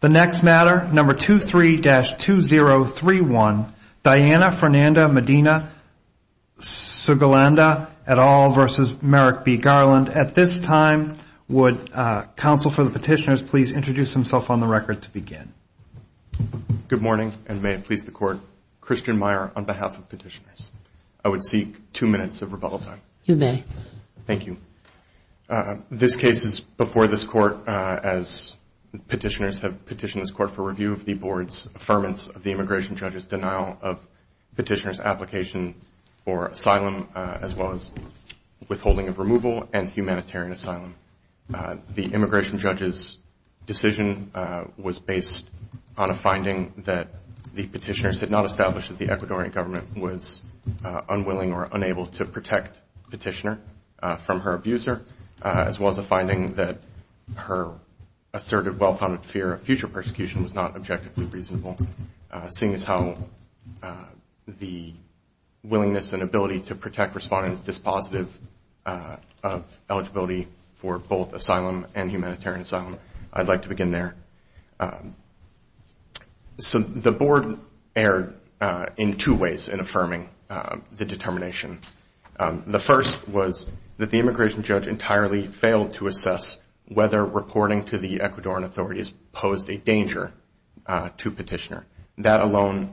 The next matter, number 23-2031, Diana Fernanda Medina-Suguilanda et al. v. Merrick B. Garland. At this time, would counsel for the petitioners please introduce themselves on the record to begin? Good morning, and may it please the Court. Christian Meyer on behalf of petitioners. I would seek two minutes of rebuttal time. You may. Thank you. This case is before this Court as petitioners have petitioned this Court for review of the Board's affirmance of the immigration judge's denial of petitioner's application for asylum, as well as withholding of removal and humanitarian asylum. The immigration judge's decision was based on a finding that the petitioners had not established that the Ecuadorian government was unwilling or unable to protect petitioner from her abuser, as well as the finding that her assertive, well-founded fear of future persecution was not objectively reasonable, seeing as how the willingness and ability to protect respondents is positive of eligibility for both asylum and humanitarian asylum. I'd like to begin there. So the Board erred in two ways in affirming the determination. The first was that the immigration judge entirely failed to assess whether reporting to the Ecuadorian authorities posed a danger to petitioner. That alone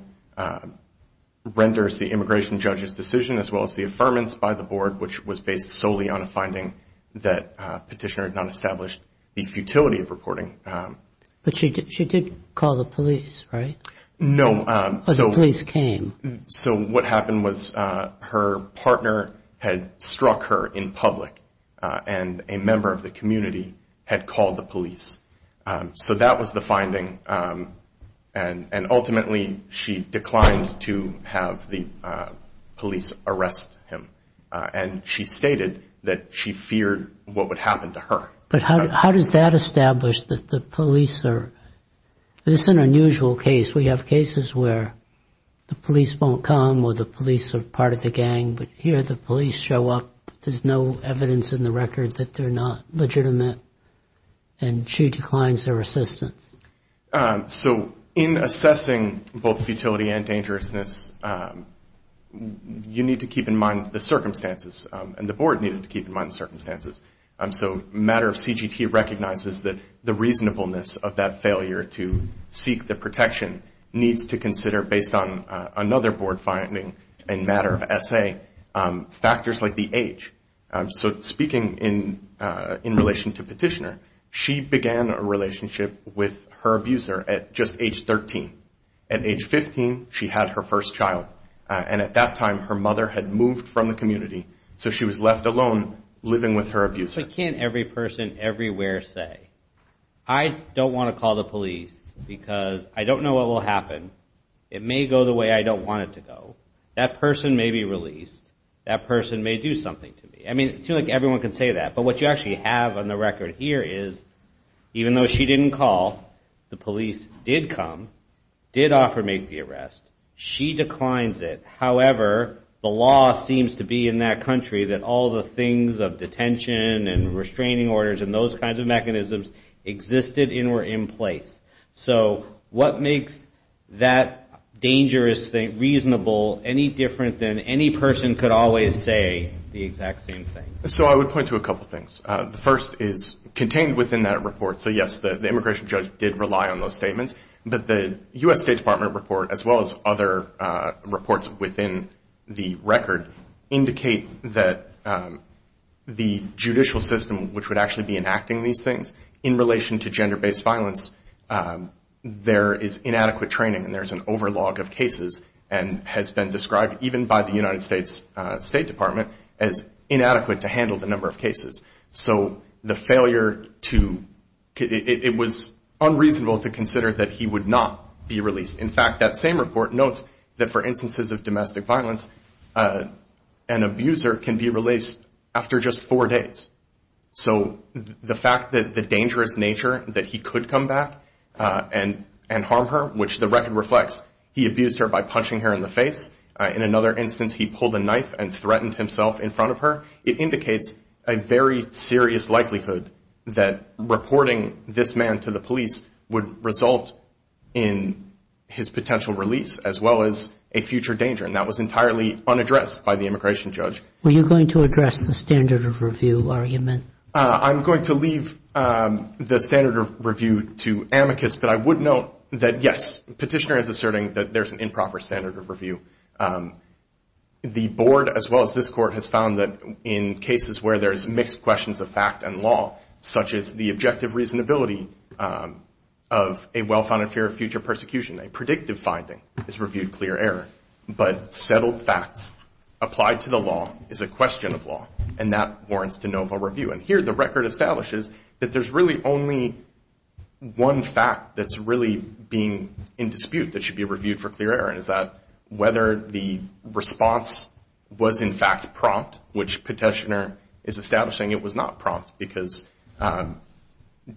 renders the immigration judge's decision, as well as the affirmance by the Board, which was based solely on a finding that petitioner had not established the futility of reporting. But she did call the police, right? No. But the police came. So what happened was her partner had struck her in public, and a member of the community had called the police. So that was the finding, and ultimately she declined to have the police arrest him. And she stated that she feared what would happen to her. But how does that establish that the police are? This is an unusual case. We have cases where the police won't come or the police are part of the gang, but here the police show up. There's no evidence in the record that they're not legitimate, and she declines their assistance. So in assessing both futility and dangerousness, you need to keep in mind the circumstances, and the Board needed to keep in mind the circumstances. So a matter of CGT recognizes that the reasonableness of that failure to seek the protection needs to consider, based on another Board finding and matter of essay, factors like the age. So speaking in relation to petitioner, she began a relationship with her abuser at just age 13. At age 15, she had her first child, and at that time her mother had moved from the community, so she was left alone living with her abuser. What can't every person everywhere say? I don't want to call the police because I don't know what will happen. It may go the way I don't want it to go. That person may be released. That person may do something to me. I mean, it seems like everyone can say that, but what you actually have on the record here is, even though she didn't call, the police did come, did offer to make the arrest. She declines it. However, the law seems to be in that country that all the things of detention and restraining orders and those kinds of mechanisms existed and were in place. So what makes that dangerous thing reasonable any different than any person could always say the exact same thing? So I would point to a couple things. The first is contained within that report. So, yes, the immigration judge did rely on those statements, but the U.S. State Department report, as well as other reports within the record, indicate that the judicial system, which would actually be enacting these things, in relation to gender-based violence, there is inadequate training and there's an overlog of cases and has been described, even by the United States State Department, as inadequate to handle the number of cases. So the failure to – it was unreasonable to consider that he would not be released. In fact, that same report notes that, for instances of domestic violence, an abuser can be released after just four days. So the fact that the dangerous nature that he could come back and harm her, which the record reflects, he abused her by punching her in the face. In another instance, he pulled a knife and threatened himself in front of her. It indicates a very serious likelihood that reporting this man to the police would result in his potential release, as well as a future danger, and that was entirely unaddressed by the immigration judge. Were you going to address the standard of review argument? I'm going to leave the standard of review to amicus, but I would note that, yes, the petitioner is asserting that there's an improper standard of review. The board, as well as this court, has found that in cases where there's mixed questions of fact and law, such as the objective reasonability of a well-founded fear of future persecution, a predictive finding is reviewed clear error. But settled facts applied to the law is a question of law, and that warrants de novo review. And here the record establishes that there's really only one fact that's really being in dispute that should be reviewed for clear error, and it's that whether the response was in fact prompt, which petitioner is establishing it was not prompt, because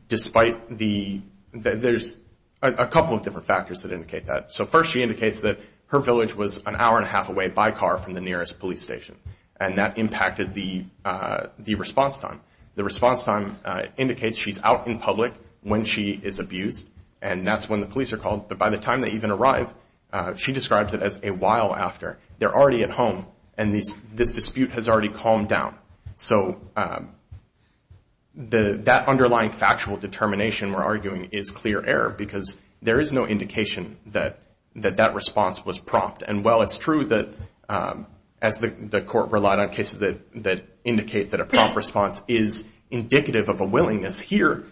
despite the – there's a couple of different factors that indicate that. So first she indicates that her village was an hour and a half away by car from the nearest police station, and that impacted the response time. The response time indicates she's out in public when she is abused, and that's when the police are called. But by the time they even arrive, she describes it as a while after. They're already at home, and this dispute has already calmed down. So that underlying factual determination, we're arguing, is clear error, because there is no indication that that response was prompt. And while it's true that as the court relied on cases that indicate that a prompt response is indicative of a willingness, here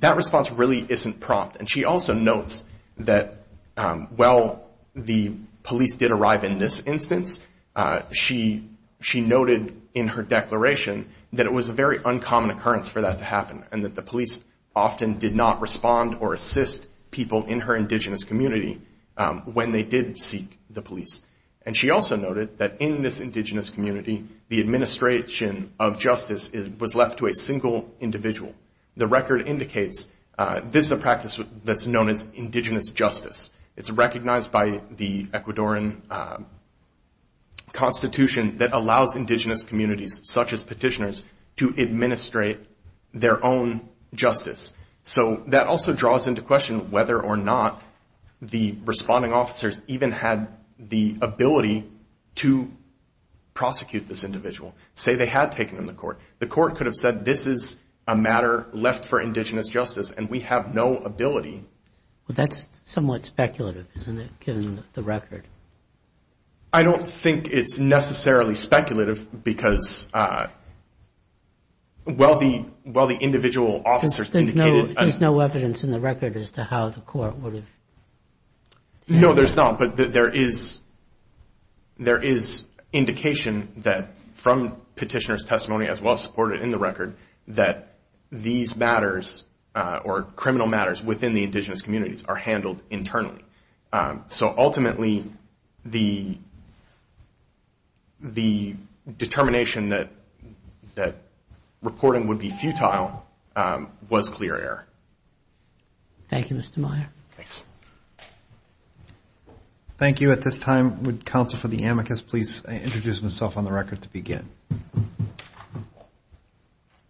that response really isn't prompt. And she also notes that while the police did arrive in this instance, she noted in her declaration that it was a very uncommon occurrence for that to happen, and that the police often did not respond or assist people in her indigenous community when they did seek the police. And she also noted that in this indigenous community, the administration of justice was left to a single individual. The record indicates this is a practice that's known as indigenous justice. It's recognized by the Ecuadoran Constitution that allows indigenous communities, such as petitioners, to administrate their own justice. So that also draws into question whether or not the responding officers even had the ability to prosecute this individual, say they had taken them to court. The court could have said this is a matter left for indigenous justice, and we have no ability. Well, that's somewhat speculative, isn't it, given the record? I don't think it's necessarily speculative, because while the individual officers indicated- Because there's no evidence in the record as to how the court would have- No, there's not. But there is indication that from petitioner's testimony, as well as supported in the record, that these matters or criminal matters within the indigenous communities are handled internally. So ultimately, the determination that reporting would be futile was clear error. Thank you, Mr. Meyer. Thanks. Thank you. At this time, would Counsel for the amicus please introduce himself on the record to begin?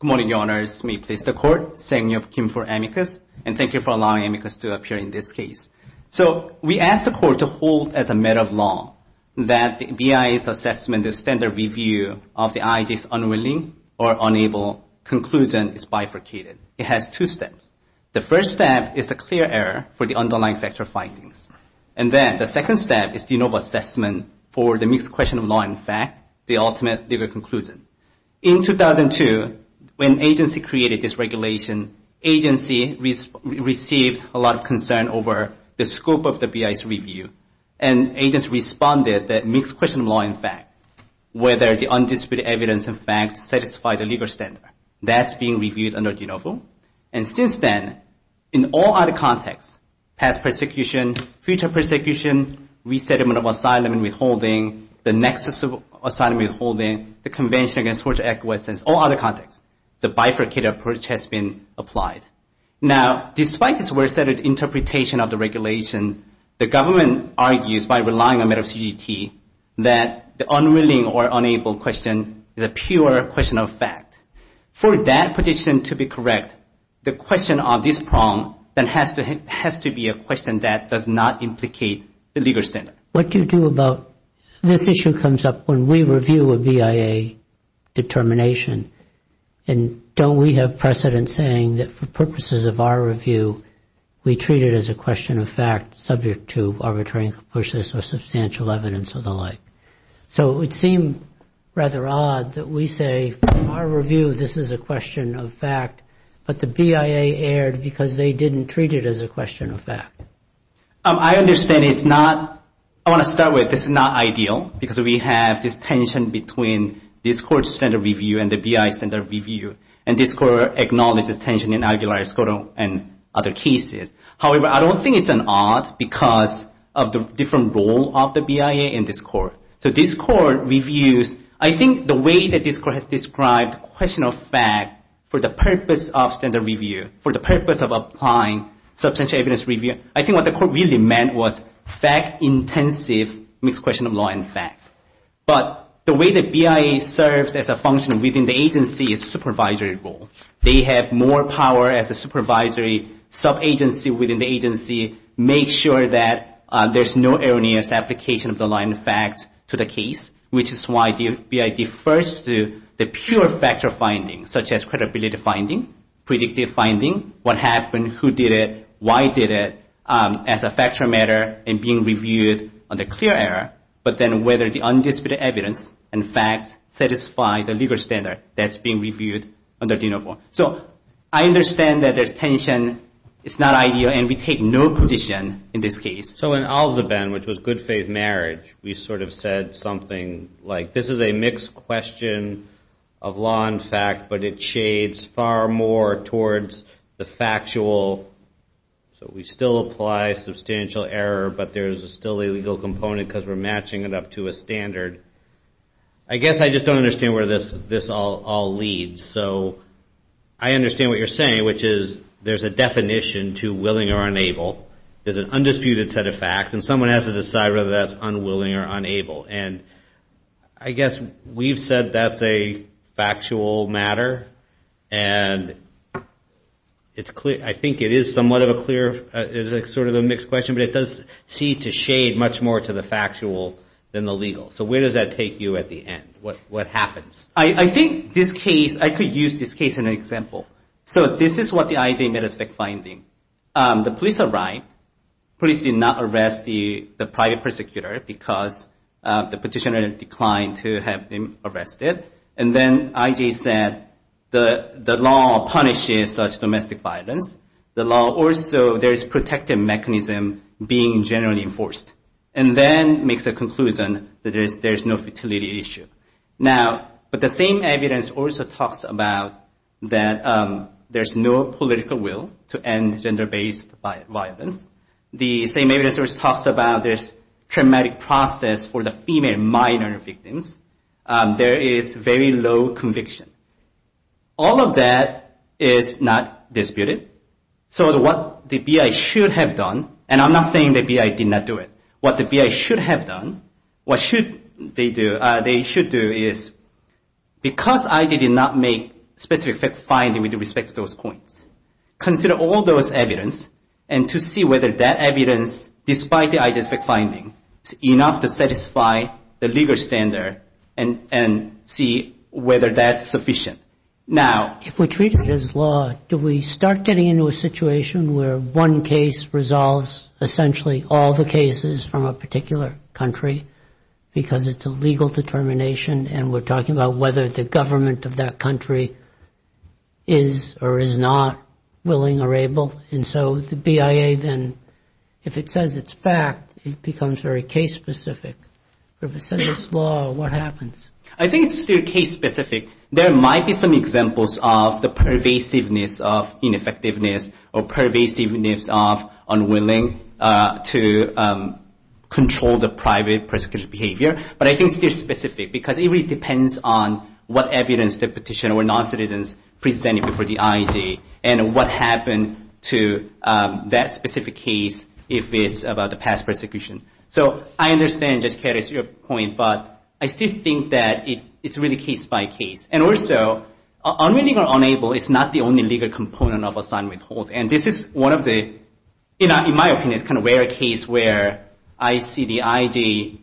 Good morning, Your Honors. May it please the Court. Sang-Yeop Kim for amicus, and thank you for allowing amicus to appear in this case. So we asked the Court to hold as a matter of law that the BIA's assessment, the standard review of the IJ's unwilling or unable conclusion is bifurcated. It has two steps. The first step is a clear error for the underlying factual findings. And then the second step is de novo assessment for the mixed question of law and fact, the ultimate legal conclusion. In 2002, when agency created this regulation, agency received a lot of concern over the scope of the BIA's review. And agency responded that mixed question of law and fact, whether the undisputed evidence and facts satisfy the legal standard. That's being reviewed under de novo. And since then, in all other contexts, past persecution, future persecution, resettlement of asylum and withholding, the nexus of asylum and withholding, the Convention Against Torture Acquiescence, all other contexts, the bifurcated approach has been applied. Now, despite this well-stated interpretation of the regulation, the government argues by relying on matter of CGT that the unwilling or unable question is a pure question of fact. For that position to be correct, the question of this problem then has to be a question that does not implicate the legal standard. What do you do about this issue comes up when we review a BIA determination and don't we have precedent saying that for purposes of our review, we treat it as a question of fact subject to arbitrariness or substantial evidence or the like? So it would seem rather odd that we say, for our review, this is a question of fact, but the BIA erred because they didn't treat it as a question of fact. I understand it's not – I want to start with this is not ideal because we have this tension between this Court's standard review and the BIA standard review, and this Court acknowledges tension in al-Ghulayr, Skoro, and other cases. However, I don't think it's odd because of the different role of the BIA in this Court. So this Court reviews – I think the way that this Court has described question of fact for the purpose of standard review, for the purpose of applying substantial evidence review, I think what the Court really meant was fact-intensive mixed question of law and fact. But the way that BIA serves as a function within the agency is supervisory role. They have more power as a supervisory sub-agency within the agency, make sure that there's no erroneous application of the line of fact to the case, which is why the BIA defers to the pure factor finding, such as credibility finding, predictive finding, what happened, who did it, why did it, as a factor matter and being reviewed under clear error, but then whether the undisputed evidence and fact satisfy the legal standard that's being reviewed under D-No. 4. So I understand that there's tension. It's not ideal, and we take no position in this case. So in al-Zubayn, which was good faith marriage, we sort of said something like, this is a mixed question of law and fact, but it shades far more towards the factual. So we still apply substantial error, but there's still a legal component because we're matching it up to a standard. I guess I just don't understand where this all leads. So I understand what you're saying, which is there's a definition to willing or unable. There's an undisputed set of facts, and someone has to decide whether that's unwilling or unable. And I guess we've said that's a factual matter, and I think it is somewhat of a clear, sort of a mixed question, but it does seem to shade much more to the factual than the legal. So where does that take you at the end? What happens? I think this case, I could use this case in an example. So this is what the IJ made a spec finding. The police arrived. Police did not arrest the private prosecutor because the petitioner declined to have him arrested. And then IJ said the law punishes such domestic violence. The law also, there's protective mechanism being generally enforced, and then makes a conclusion that there's no futility issue. Now, but the same evidence also talks about that there's no political will to end gender-based violence. The same evidence also talks about there's traumatic process for the female minor victims. There is very low conviction. All of that is not disputed. So what the BI should have done, and I'm not saying the BI did not do it. What the BI should have done, what should they do, they should do is, because IJ did not make specific fact finding with respect to those points, consider all those evidence, and to see whether that evidence, despite the IJ spec finding, is enough to satisfy the legal standard and see whether that's sufficient. Now, if we treat it as law, do we start getting into a situation where one case resolves essentially all the cases from a particular country because it's a legal determination, and we're talking about whether the government of that country is or is not willing or able? And so the BIA then, if it says it's fact, it becomes very case-specific. If it says it's law, what happens? I think it's still case-specific. There might be some examples of the pervasiveness of ineffectiveness or pervasiveness of unwilling to control the private prosecution behavior, but I think it's still specific because it really depends on what evidence the petitioner or non-citizens presented before the IJ and what happened to that specific case if it's about the past prosecution. So I understand, Judge Karras, your point, but I still think that it's really case-by-case. And also, unwilling or unable is not the only legal component of a signed withhold. And this is one of the, in my opinion, it's kind of a rare case where I see the IJ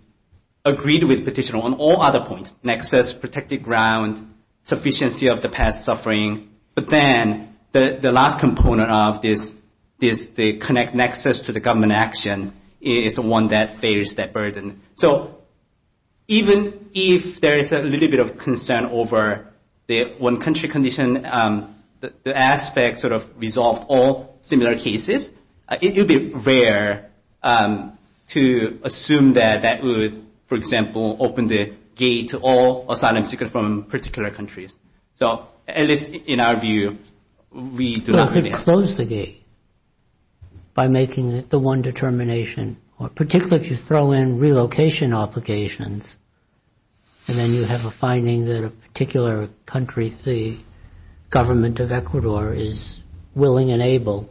agreed with the petitioner on all other points, nexus, protected ground, sufficiency of the past suffering. But then the last component of this, the connect nexus to the government action, is the one that bears that burden. So even if there is a little bit of concern over the one country condition, the aspect sort of resolve all similar cases, it would be rare to assume that that would, for example, open the gate to all asylum seekers from particular countries. So at least in our view, we do not have that. You have to close the gate by making the one determination, particularly if you throw in relocation obligations, and then you have a finding that a particular country, the government of Ecuador, is willing and able,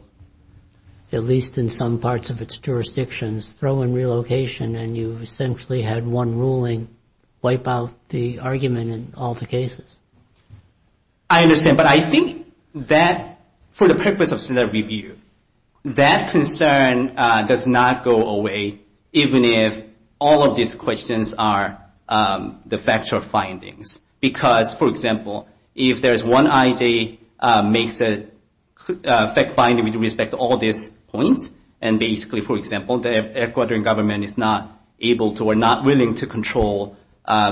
at least in some parts of its jurisdictions, throw in relocation, and you essentially had one ruling wipe out the argument in all the cases. I understand. But I think that for the purpose of standard review, that concern does not go away, even if all of these questions are the factual findings. Because, for example, if there is one IG makes a fact finding with respect to all these points, and basically, for example, the Ecuadorian government is not able to or not willing to control,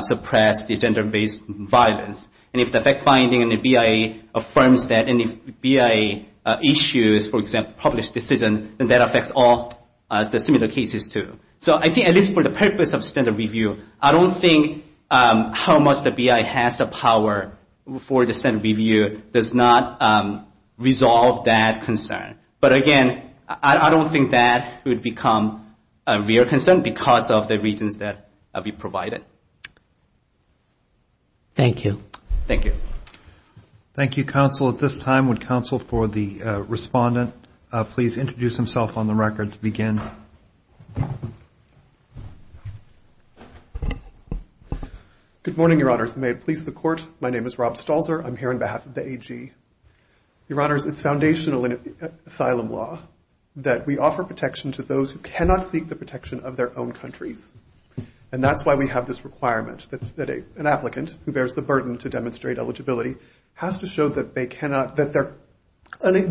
suppress the gender-based violence, and if the fact finding and the BIA affirms that, and if BIA issues, for example, published decision, then that affects all the similar cases too. So I think at least for the purpose of standard review, I don't think how much the BIA has the power for standard review does not resolve that concern. But, again, I don't think that would become a real concern because of the reasons that we provided. Thank you. Thank you. Thank you, counsel. At this time, would counsel for the respondent please introduce himself on the record to begin? Good morning, Your Honors. May it please the Court, my name is Rob Stalzer. I'm here on behalf of the AG. Your Honors, it's foundational in asylum law that we offer protection to those who cannot seek the protection of their own countries, and that's why we have this requirement that an applicant who bears the burden to demonstrate eligibility has to show that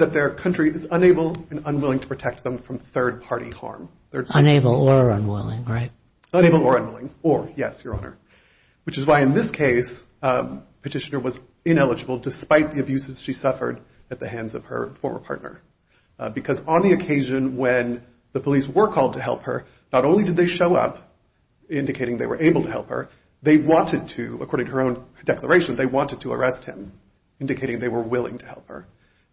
their country is unable and unwilling to protect them from third-party harm. Unable or unwilling, right? Unable or unwilling. Or, yes, Your Honor, which is why in this case, Petitioner was ineligible despite the abuses she suffered at the hands of her former partner. Because on the occasion when the police were called to help her, not only did they show up indicating they were able to help her, they wanted to, according to her own declaration, they wanted to arrest him, indicating they were willing to help her.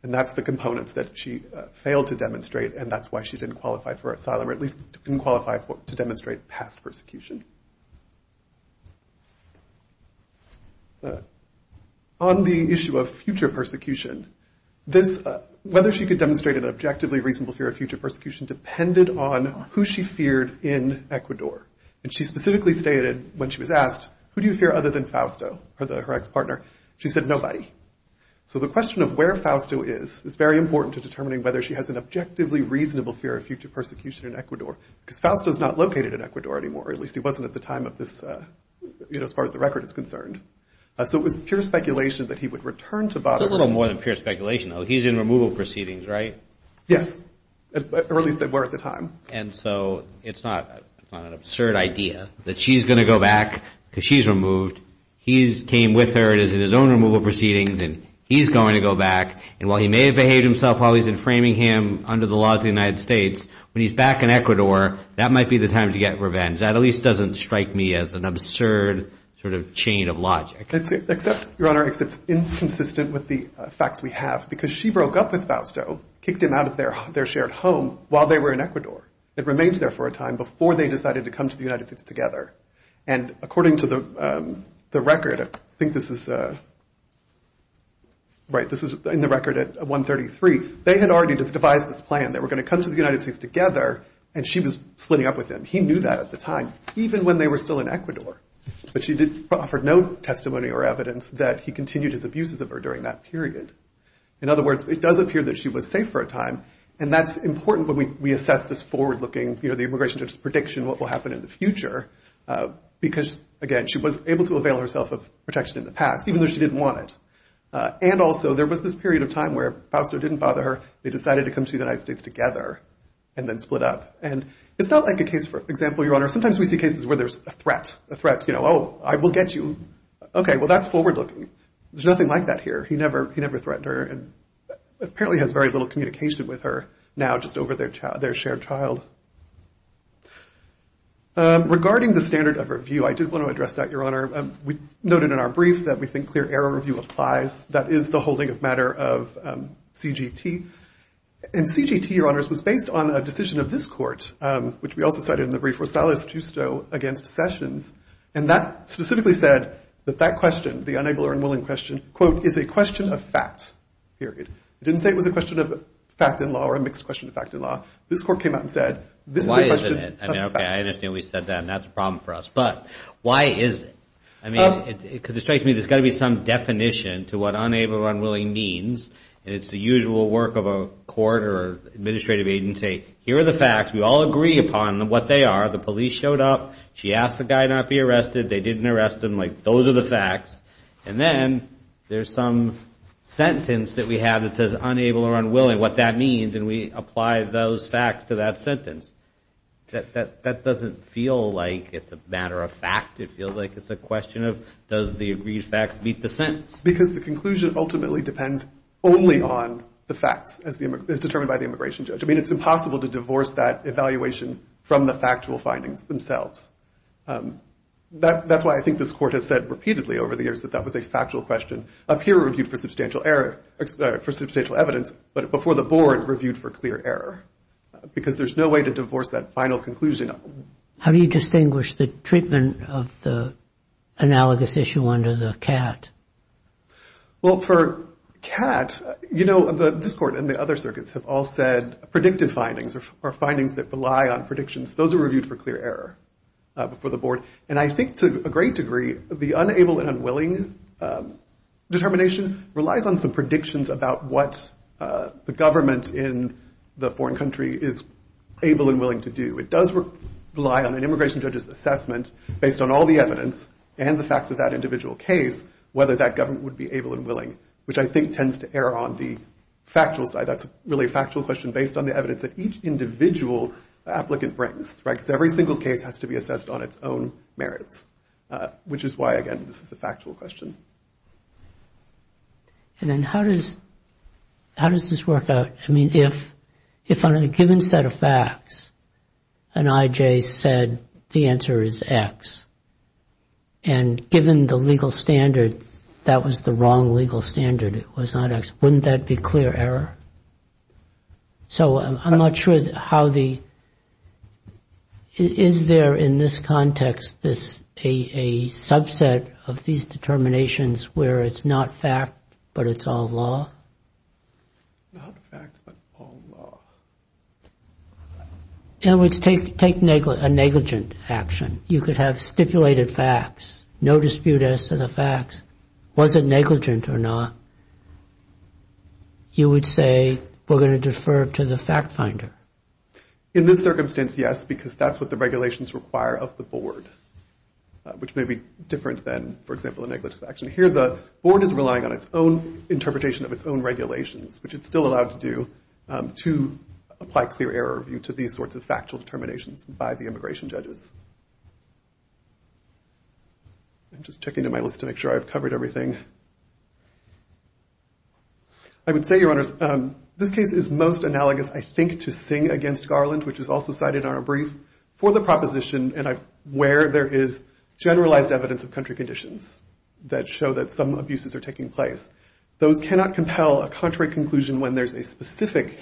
And that's the components that she failed to demonstrate, and that's why she didn't qualify for asylum, or at least didn't qualify to demonstrate past persecution. On the issue of future persecution, whether she could demonstrate an objectively reasonable fear of future persecution depended on who she feared in Ecuador. And she specifically stated when she was asked, who do you fear other than Fausto, her ex-partner, she said, nobody. So the question of where Fausto is is very important to determining whether she has an objectively reasonable fear of future persecution in Ecuador. Because Fausto is not located in Ecuador anymore, or at least he wasn't at the time of this, you know, as far as the record is concerned. So it was pure speculation that he would return to Bogota. It's a little more than pure speculation, though. He's in removal proceedings, right? Yes. Or at least they were at the time. And so it's not an absurd idea that she's going to go back because she's removed. He came with her. It is in his own removal proceedings, and he's going to go back. And while he may have behaved himself while he's in Framingham under the laws of the United States, when he's back in Ecuador, that might be the time to get revenge. That at least doesn't strike me as an absurd sort of chain of logic. Except, Your Honor, it's inconsistent with the facts we have. Because she broke up with Fausto, kicked him out of their shared home while they were in Ecuador. It remained there for a time before they decided to come to the United States together. And according to the record, I think this is, right, this is in the record at 133, they had already devised this plan. They were going to come to the United States together, and she was splitting up with him. He knew that at the time, even when they were still in Ecuador. But she did offer no testimony or evidence that he continued his abuses of her during that period. In other words, it does appear that she was safe for a time. And that's important when we assess this forward-looking, you know, the immigration judge's prediction of what will happen in the future. Because, again, she was able to avail herself of protection in the past, even though she didn't want it. And also, there was this period of time where Fausto didn't bother her. They decided to come to the United States together and then split up. And it's not like a case, for example, Your Honor, sometimes we see cases where there's a threat. A threat, you know, oh, I will get you. Okay, well, that's forward-looking. There's nothing like that here. He never threatened her and apparently has very little communication with her now, just over their shared child. Regarding the standard of review, I did want to address that, Your Honor. We noted in our brief that we think clear error review applies. That is the holding of matter of CGT. And CGT, Your Honors, was based on a decision of this court, which we also cited in the brief, Rosales-Giusto against Sessions. And that specifically said that that question, the unable or unwilling question, quote, is a question of fact, period. It didn't say it was a question of fact in law or a mixed question of fact in law. This court came out and said, this is a question of fact. Why isn't it? I mean, okay, I understand what you said then. That's a problem for us. But why is it? I mean, because it strikes me there's got to be some definition to what unable or unwilling means. And it's the usual work of a court or administrative agency. Here are the facts. We all agree upon what they are. The police showed up. She asked the guy not to be arrested. They didn't arrest him. Like, those are the facts. And then there's some sentence that we have that says unable or unwilling, what that means. And we apply those facts to that sentence. That doesn't feel like it's a matter of fact. It feels like it's a question of does the agreed facts meet the sentence. Because the conclusion ultimately depends only on the facts as determined by the immigration judge. I mean, it's impossible to divorce that evaluation from the factual findings themselves. That's why I think this court has said repeatedly over the years that that was a factual question. Up here, it reviewed for substantial error, for substantial evidence. But before the board, reviewed for clear error. Because there's no way to divorce that final conclusion. How do you distinguish the treatment of the analogous issue under the CAT? Well, for CAT, you know, this court and the other circuits have all said predictive findings are findings that rely on predictions. Those are reviewed for clear error before the board. And I think to a great degree, the unable and unwilling determination relies on some predictions about what the government in the foreign country is able and willing to do. It does rely on an immigration judge's assessment based on all the evidence and the facts of that individual case, whether that government would be able and willing. Which I think tends to err on the factual side. That's really a factual question based on the evidence that each individual applicant brings. Right? Because every single case has to be assessed on its own merits. Which is why, again, this is a factual question. And then how does this work out? I mean, if on a given set of facts, an IJ said the answer is X, and given the legal standard that was the wrong legal standard, it was not X, wouldn't that be clear error? So I'm not sure how the... Is there in this context a subset of these determinations where it's not fact, but it's all law? In other words, take a negligent action. You could have stipulated facts. No dispute as to the facts. Was it negligent or not? You would say we're going to defer to the fact finder. In this circumstance, yes, because that's what the regulations require of the board. Which may be different than, for example, a negligent action. Here the board is relying on its own interpretation of its own regulations, which it's still allowed to do, to apply clear error to these sorts of factual determinations by the immigration judges. I'm just checking my list to make sure I've covered everything. I would say, Your Honors, this case is most analogous, I think, to Singh against Garland, which was also cited in our brief, for the proposition where there is generalized evidence of country conditions that show that some abuses are taking place. Those cannot compel a contrary conclusion when there's a specific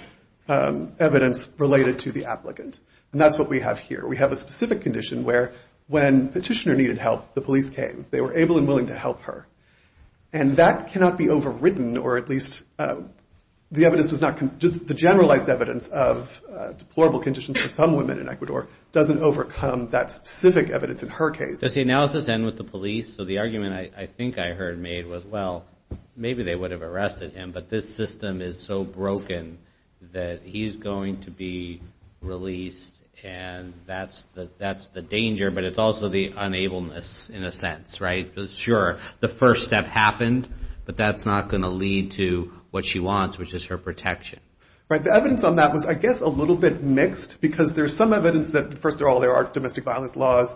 evidence related to the applicant. And that's what we have here. We have a specific condition where when Petitioner needed help, the police came. They were able and willing to help her. And that cannot be overwritten, or at least the evidence does not, the generalized evidence of deplorable conditions for some women in Ecuador doesn't overcome that specific evidence in her case. Does the analysis end with the police? So the argument I think I heard made was, well, maybe they would have arrested him, but this system is so broken that he's going to be released, and that's the danger, but it's also the unableness in a sense, right? Sure, the first step happened, but that's not going to lead to what she wants, which is her protection. Right. The evidence on that was, I guess, a little bit mixed, because there's some evidence that, first of all, there are domestic violence laws.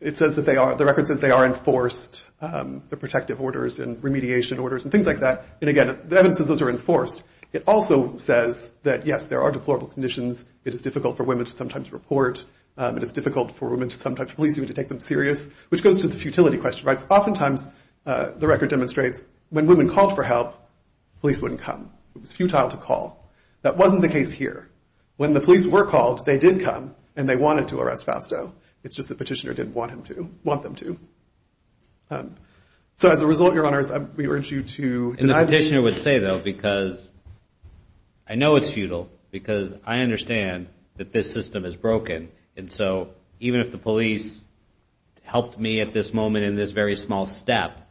The record says they are enforced, the protective orders and remediation orders and things like that. And, again, the evidence says those are enforced. It also says that, yes, there are deplorable conditions. It is difficult for women to sometimes report. It is difficult for women to sometimes police even to take them serious, which goes to the futility question, right? Oftentimes the record demonstrates when women called for help, police wouldn't come. It was futile to call. That wasn't the case here. When the police were called, they did come, and they wanted to arrest Fausto. It's just that Petitioner didn't want them to. So, as a result, Your Honors, we urge you to deny this. And the Petitioner would say, though, because I know it's futile, because I understand that this system is broken. And so even if the police helped me at this moment in this very small step,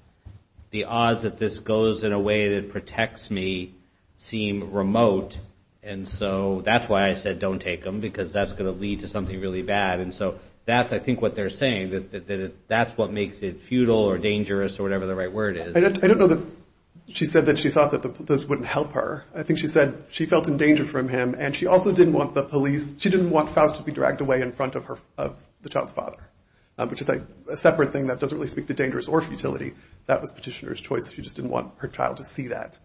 the odds that this goes in a way that protects me seem remote. And so that's why I said don't take them, because that's going to lead to something really bad. And so that's, I think, what they're saying, that that's what makes it futile or dangerous or whatever the right word is. I don't know that she said that she thought that this wouldn't help her. I think she said she felt in danger from him, and she also didn't want the police, she didn't want Fausto to be dragged away in front of the child's father, which is a separate thing that doesn't really speak to dangerous or futility. That was Petitioner's choice. She just didn't want her child to see that.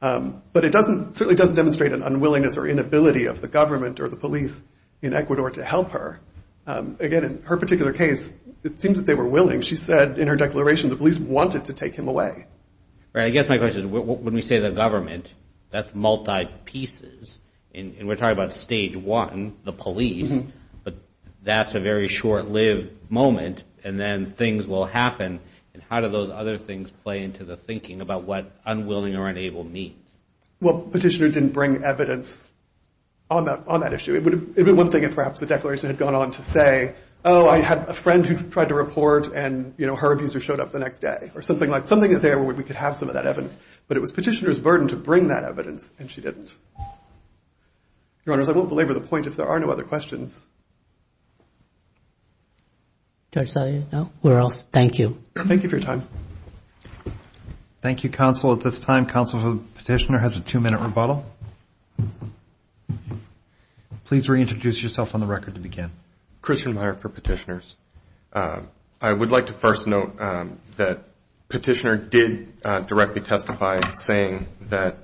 But it certainly doesn't demonstrate an unwillingness or inability of the government or the police in Ecuador to help her. Again, in her particular case, it seems that they were willing. She said in her declaration the police wanted to take him away. Right. I guess my question is when we say the government, that's multi-pieces. And we're talking about stage one, the police, but that's a very short-lived moment, and then things will happen. And how do those other things play into the thinking about what unwilling or unable means? Well, Petitioner didn't bring evidence on that issue. It would have been one thing if perhaps the declaration had gone on to say, oh, I had a friend who tried to report and, you know, her abuser showed up the next day, or something like that. Something in there where we could have some of that evidence. But it was Petitioner's burden to bring that evidence, and she didn't. Your Honors, I won't belabor the point if there are no other questions. Judge Salyer, no? We're off. Thank you. Thank you for your time. Thank you, Counsel. At this time, Counsel for Petitioner has a two-minute rebuttal. Please reintroduce yourself on the record to begin. Christian Meyer for Petitioners. I would like to first note that Petitioner did directly testify saying that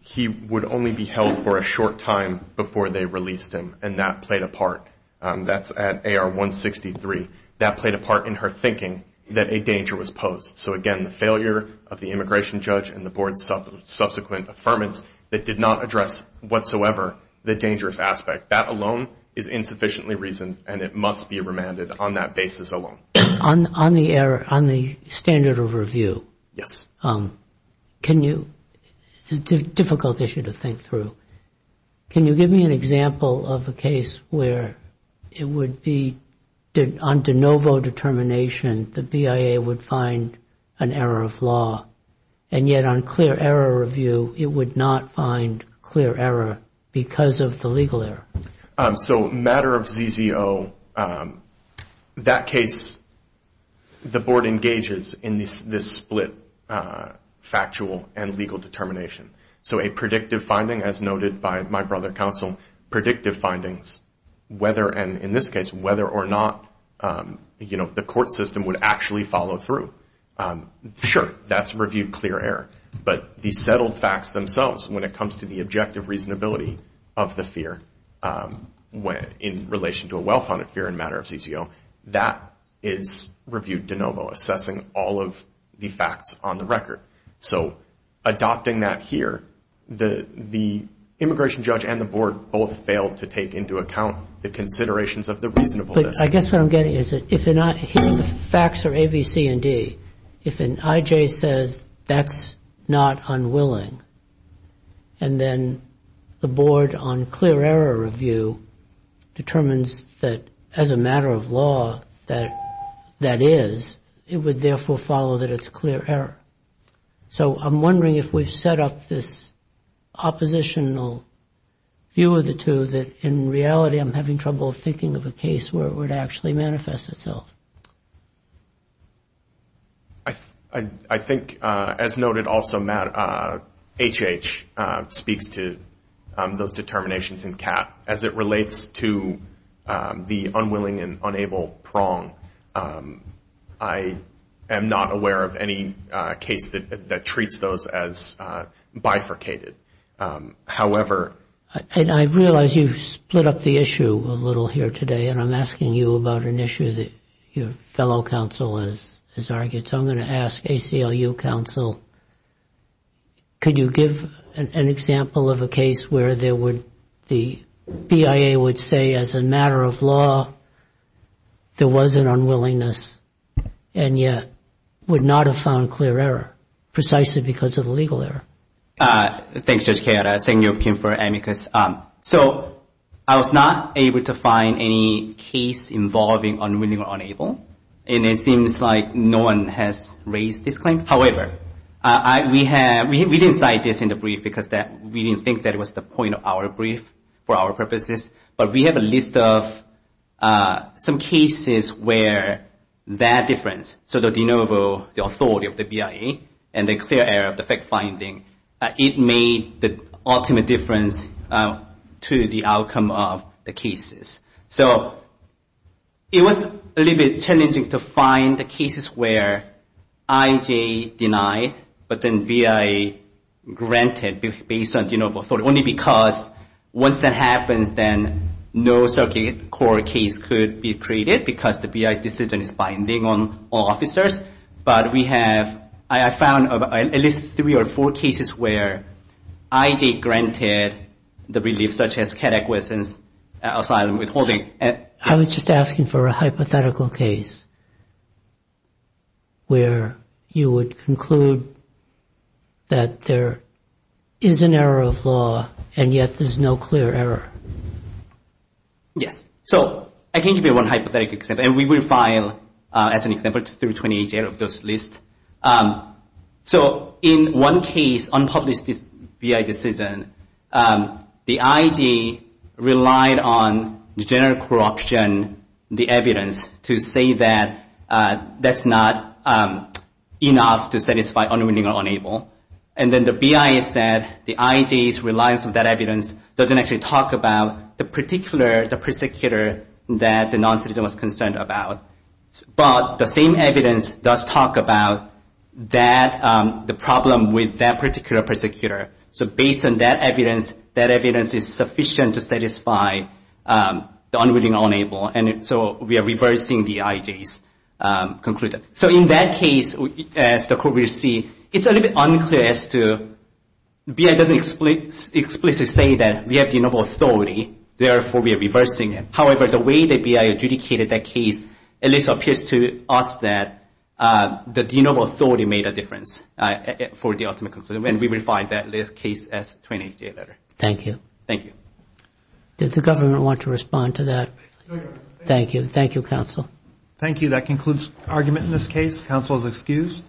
he would only be held for a short time before they released him, and that played a part. That's at AR 163. That played a part in her thinking that a danger was posed. So, again, the failure of the immigration judge and the Board's subsequent affirmance that did not address whatsoever the dangerous aspect. That alone is insufficiently reasoned, and it must be remanded on that basis alone. On the standard of review, can you – it's a difficult issue to think through. Can you give me an example of a case where it would be on de novo determination that the BIA would find an error of law, and yet on clear error review, it would not find clear error because of the legal error? So, matter of ZZO, that case, the Board engages in this split factual and legal determination. So a predictive finding, as noted by my brother, Counsel, predictive findings, whether, and in this case, whether or not, you know, the court system would actually follow through. Sure, that's reviewed clear error, but the settled facts themselves, when it comes to the objective reasonability of the fear in relation to a well-founded fear in matter of ZZO, that is reviewed de novo, assessing all of the facts on the record. So adopting that here, the immigration judge and the Board both fail to take into account the considerations of the reasonableness. But I guess what I'm getting is that if the facts are A, B, C, and D, if an IJ says that's not unwilling, and then the Board on clear error review determines that as a matter of law that that is, it would therefore follow that it's clear error. So I'm wondering if we've set up this oppositional view of the two, that in reality I'm having trouble thinking of a case where it would actually manifest itself. I think, as noted also, Matt, HH speaks to those determinations in CAP. As it relates to the unwilling and unable prong, I am not aware of any case that treats those as bifurcated. However — And I realize you've split up the issue a little here today, and I'm asking you about an issue that your fellow counsel has argued. So I'm going to ask ACLU counsel, could you give an example of a case where the BIA would say, as a matter of law, there was an unwillingness, and yet would not have found clear error, precisely because of the legal error. Thanks, Judge Kaye. I'll send you a pin for amicus. So I was not able to find any case involving unwilling or unable, and it seems like no one has raised this claim. However, we didn't cite this in the brief because we didn't think that was the point of our brief for our purposes, but we have a list of some cases where that difference, so the de novo, the authority of the BIA, and the clear error of the fact-finding, it made the ultimate difference to the outcome of the cases. So it was a little bit challenging to find the cases where IJ denied, but then BIA granted based on de novo authority, only because once that happens, then no circuit court case could be treated because the BIA decision is binding on all officers. But we have, I found at least three or four cases where IJ granted the relief, such as catechisms, asylum, withholding. I was just asking for a hypothetical case where you would conclude that there is an error of law, and yet there's no clear error. Yes. So I can give you one hypothetical example, and we will file, as an example, 328 out of this list. So in one case, unpublished BIA decision, the IJ relied on the general corruption, the evidence to say that that's not enough to satisfy unwitting or unable. And then the BIA said the IJ's reliance on that evidence doesn't actually talk about the particular, the persecutor that the noncitizen was concerned about. But the same evidence does talk about that, the problem with that particular persecutor. So based on that evidence, that evidence is sufficient to satisfy the unwitting or unable. And so we are reversing the IJ's conclusion. So in that case, as the court will see, it's a little bit unclear as to, BIA doesn't explicitly say that we have the noble authority, therefore we are reversing it. However, the way that BIA adjudicated that case at least appears to us that the noble authority made a difference for the ultimate conclusion, and we will find that case as a 28-day letter. Thank you. Thank you. Does the government want to respond to that? Thank you. Thank you, counsel. Thank you. That concludes argument in this case. Counsel is excused.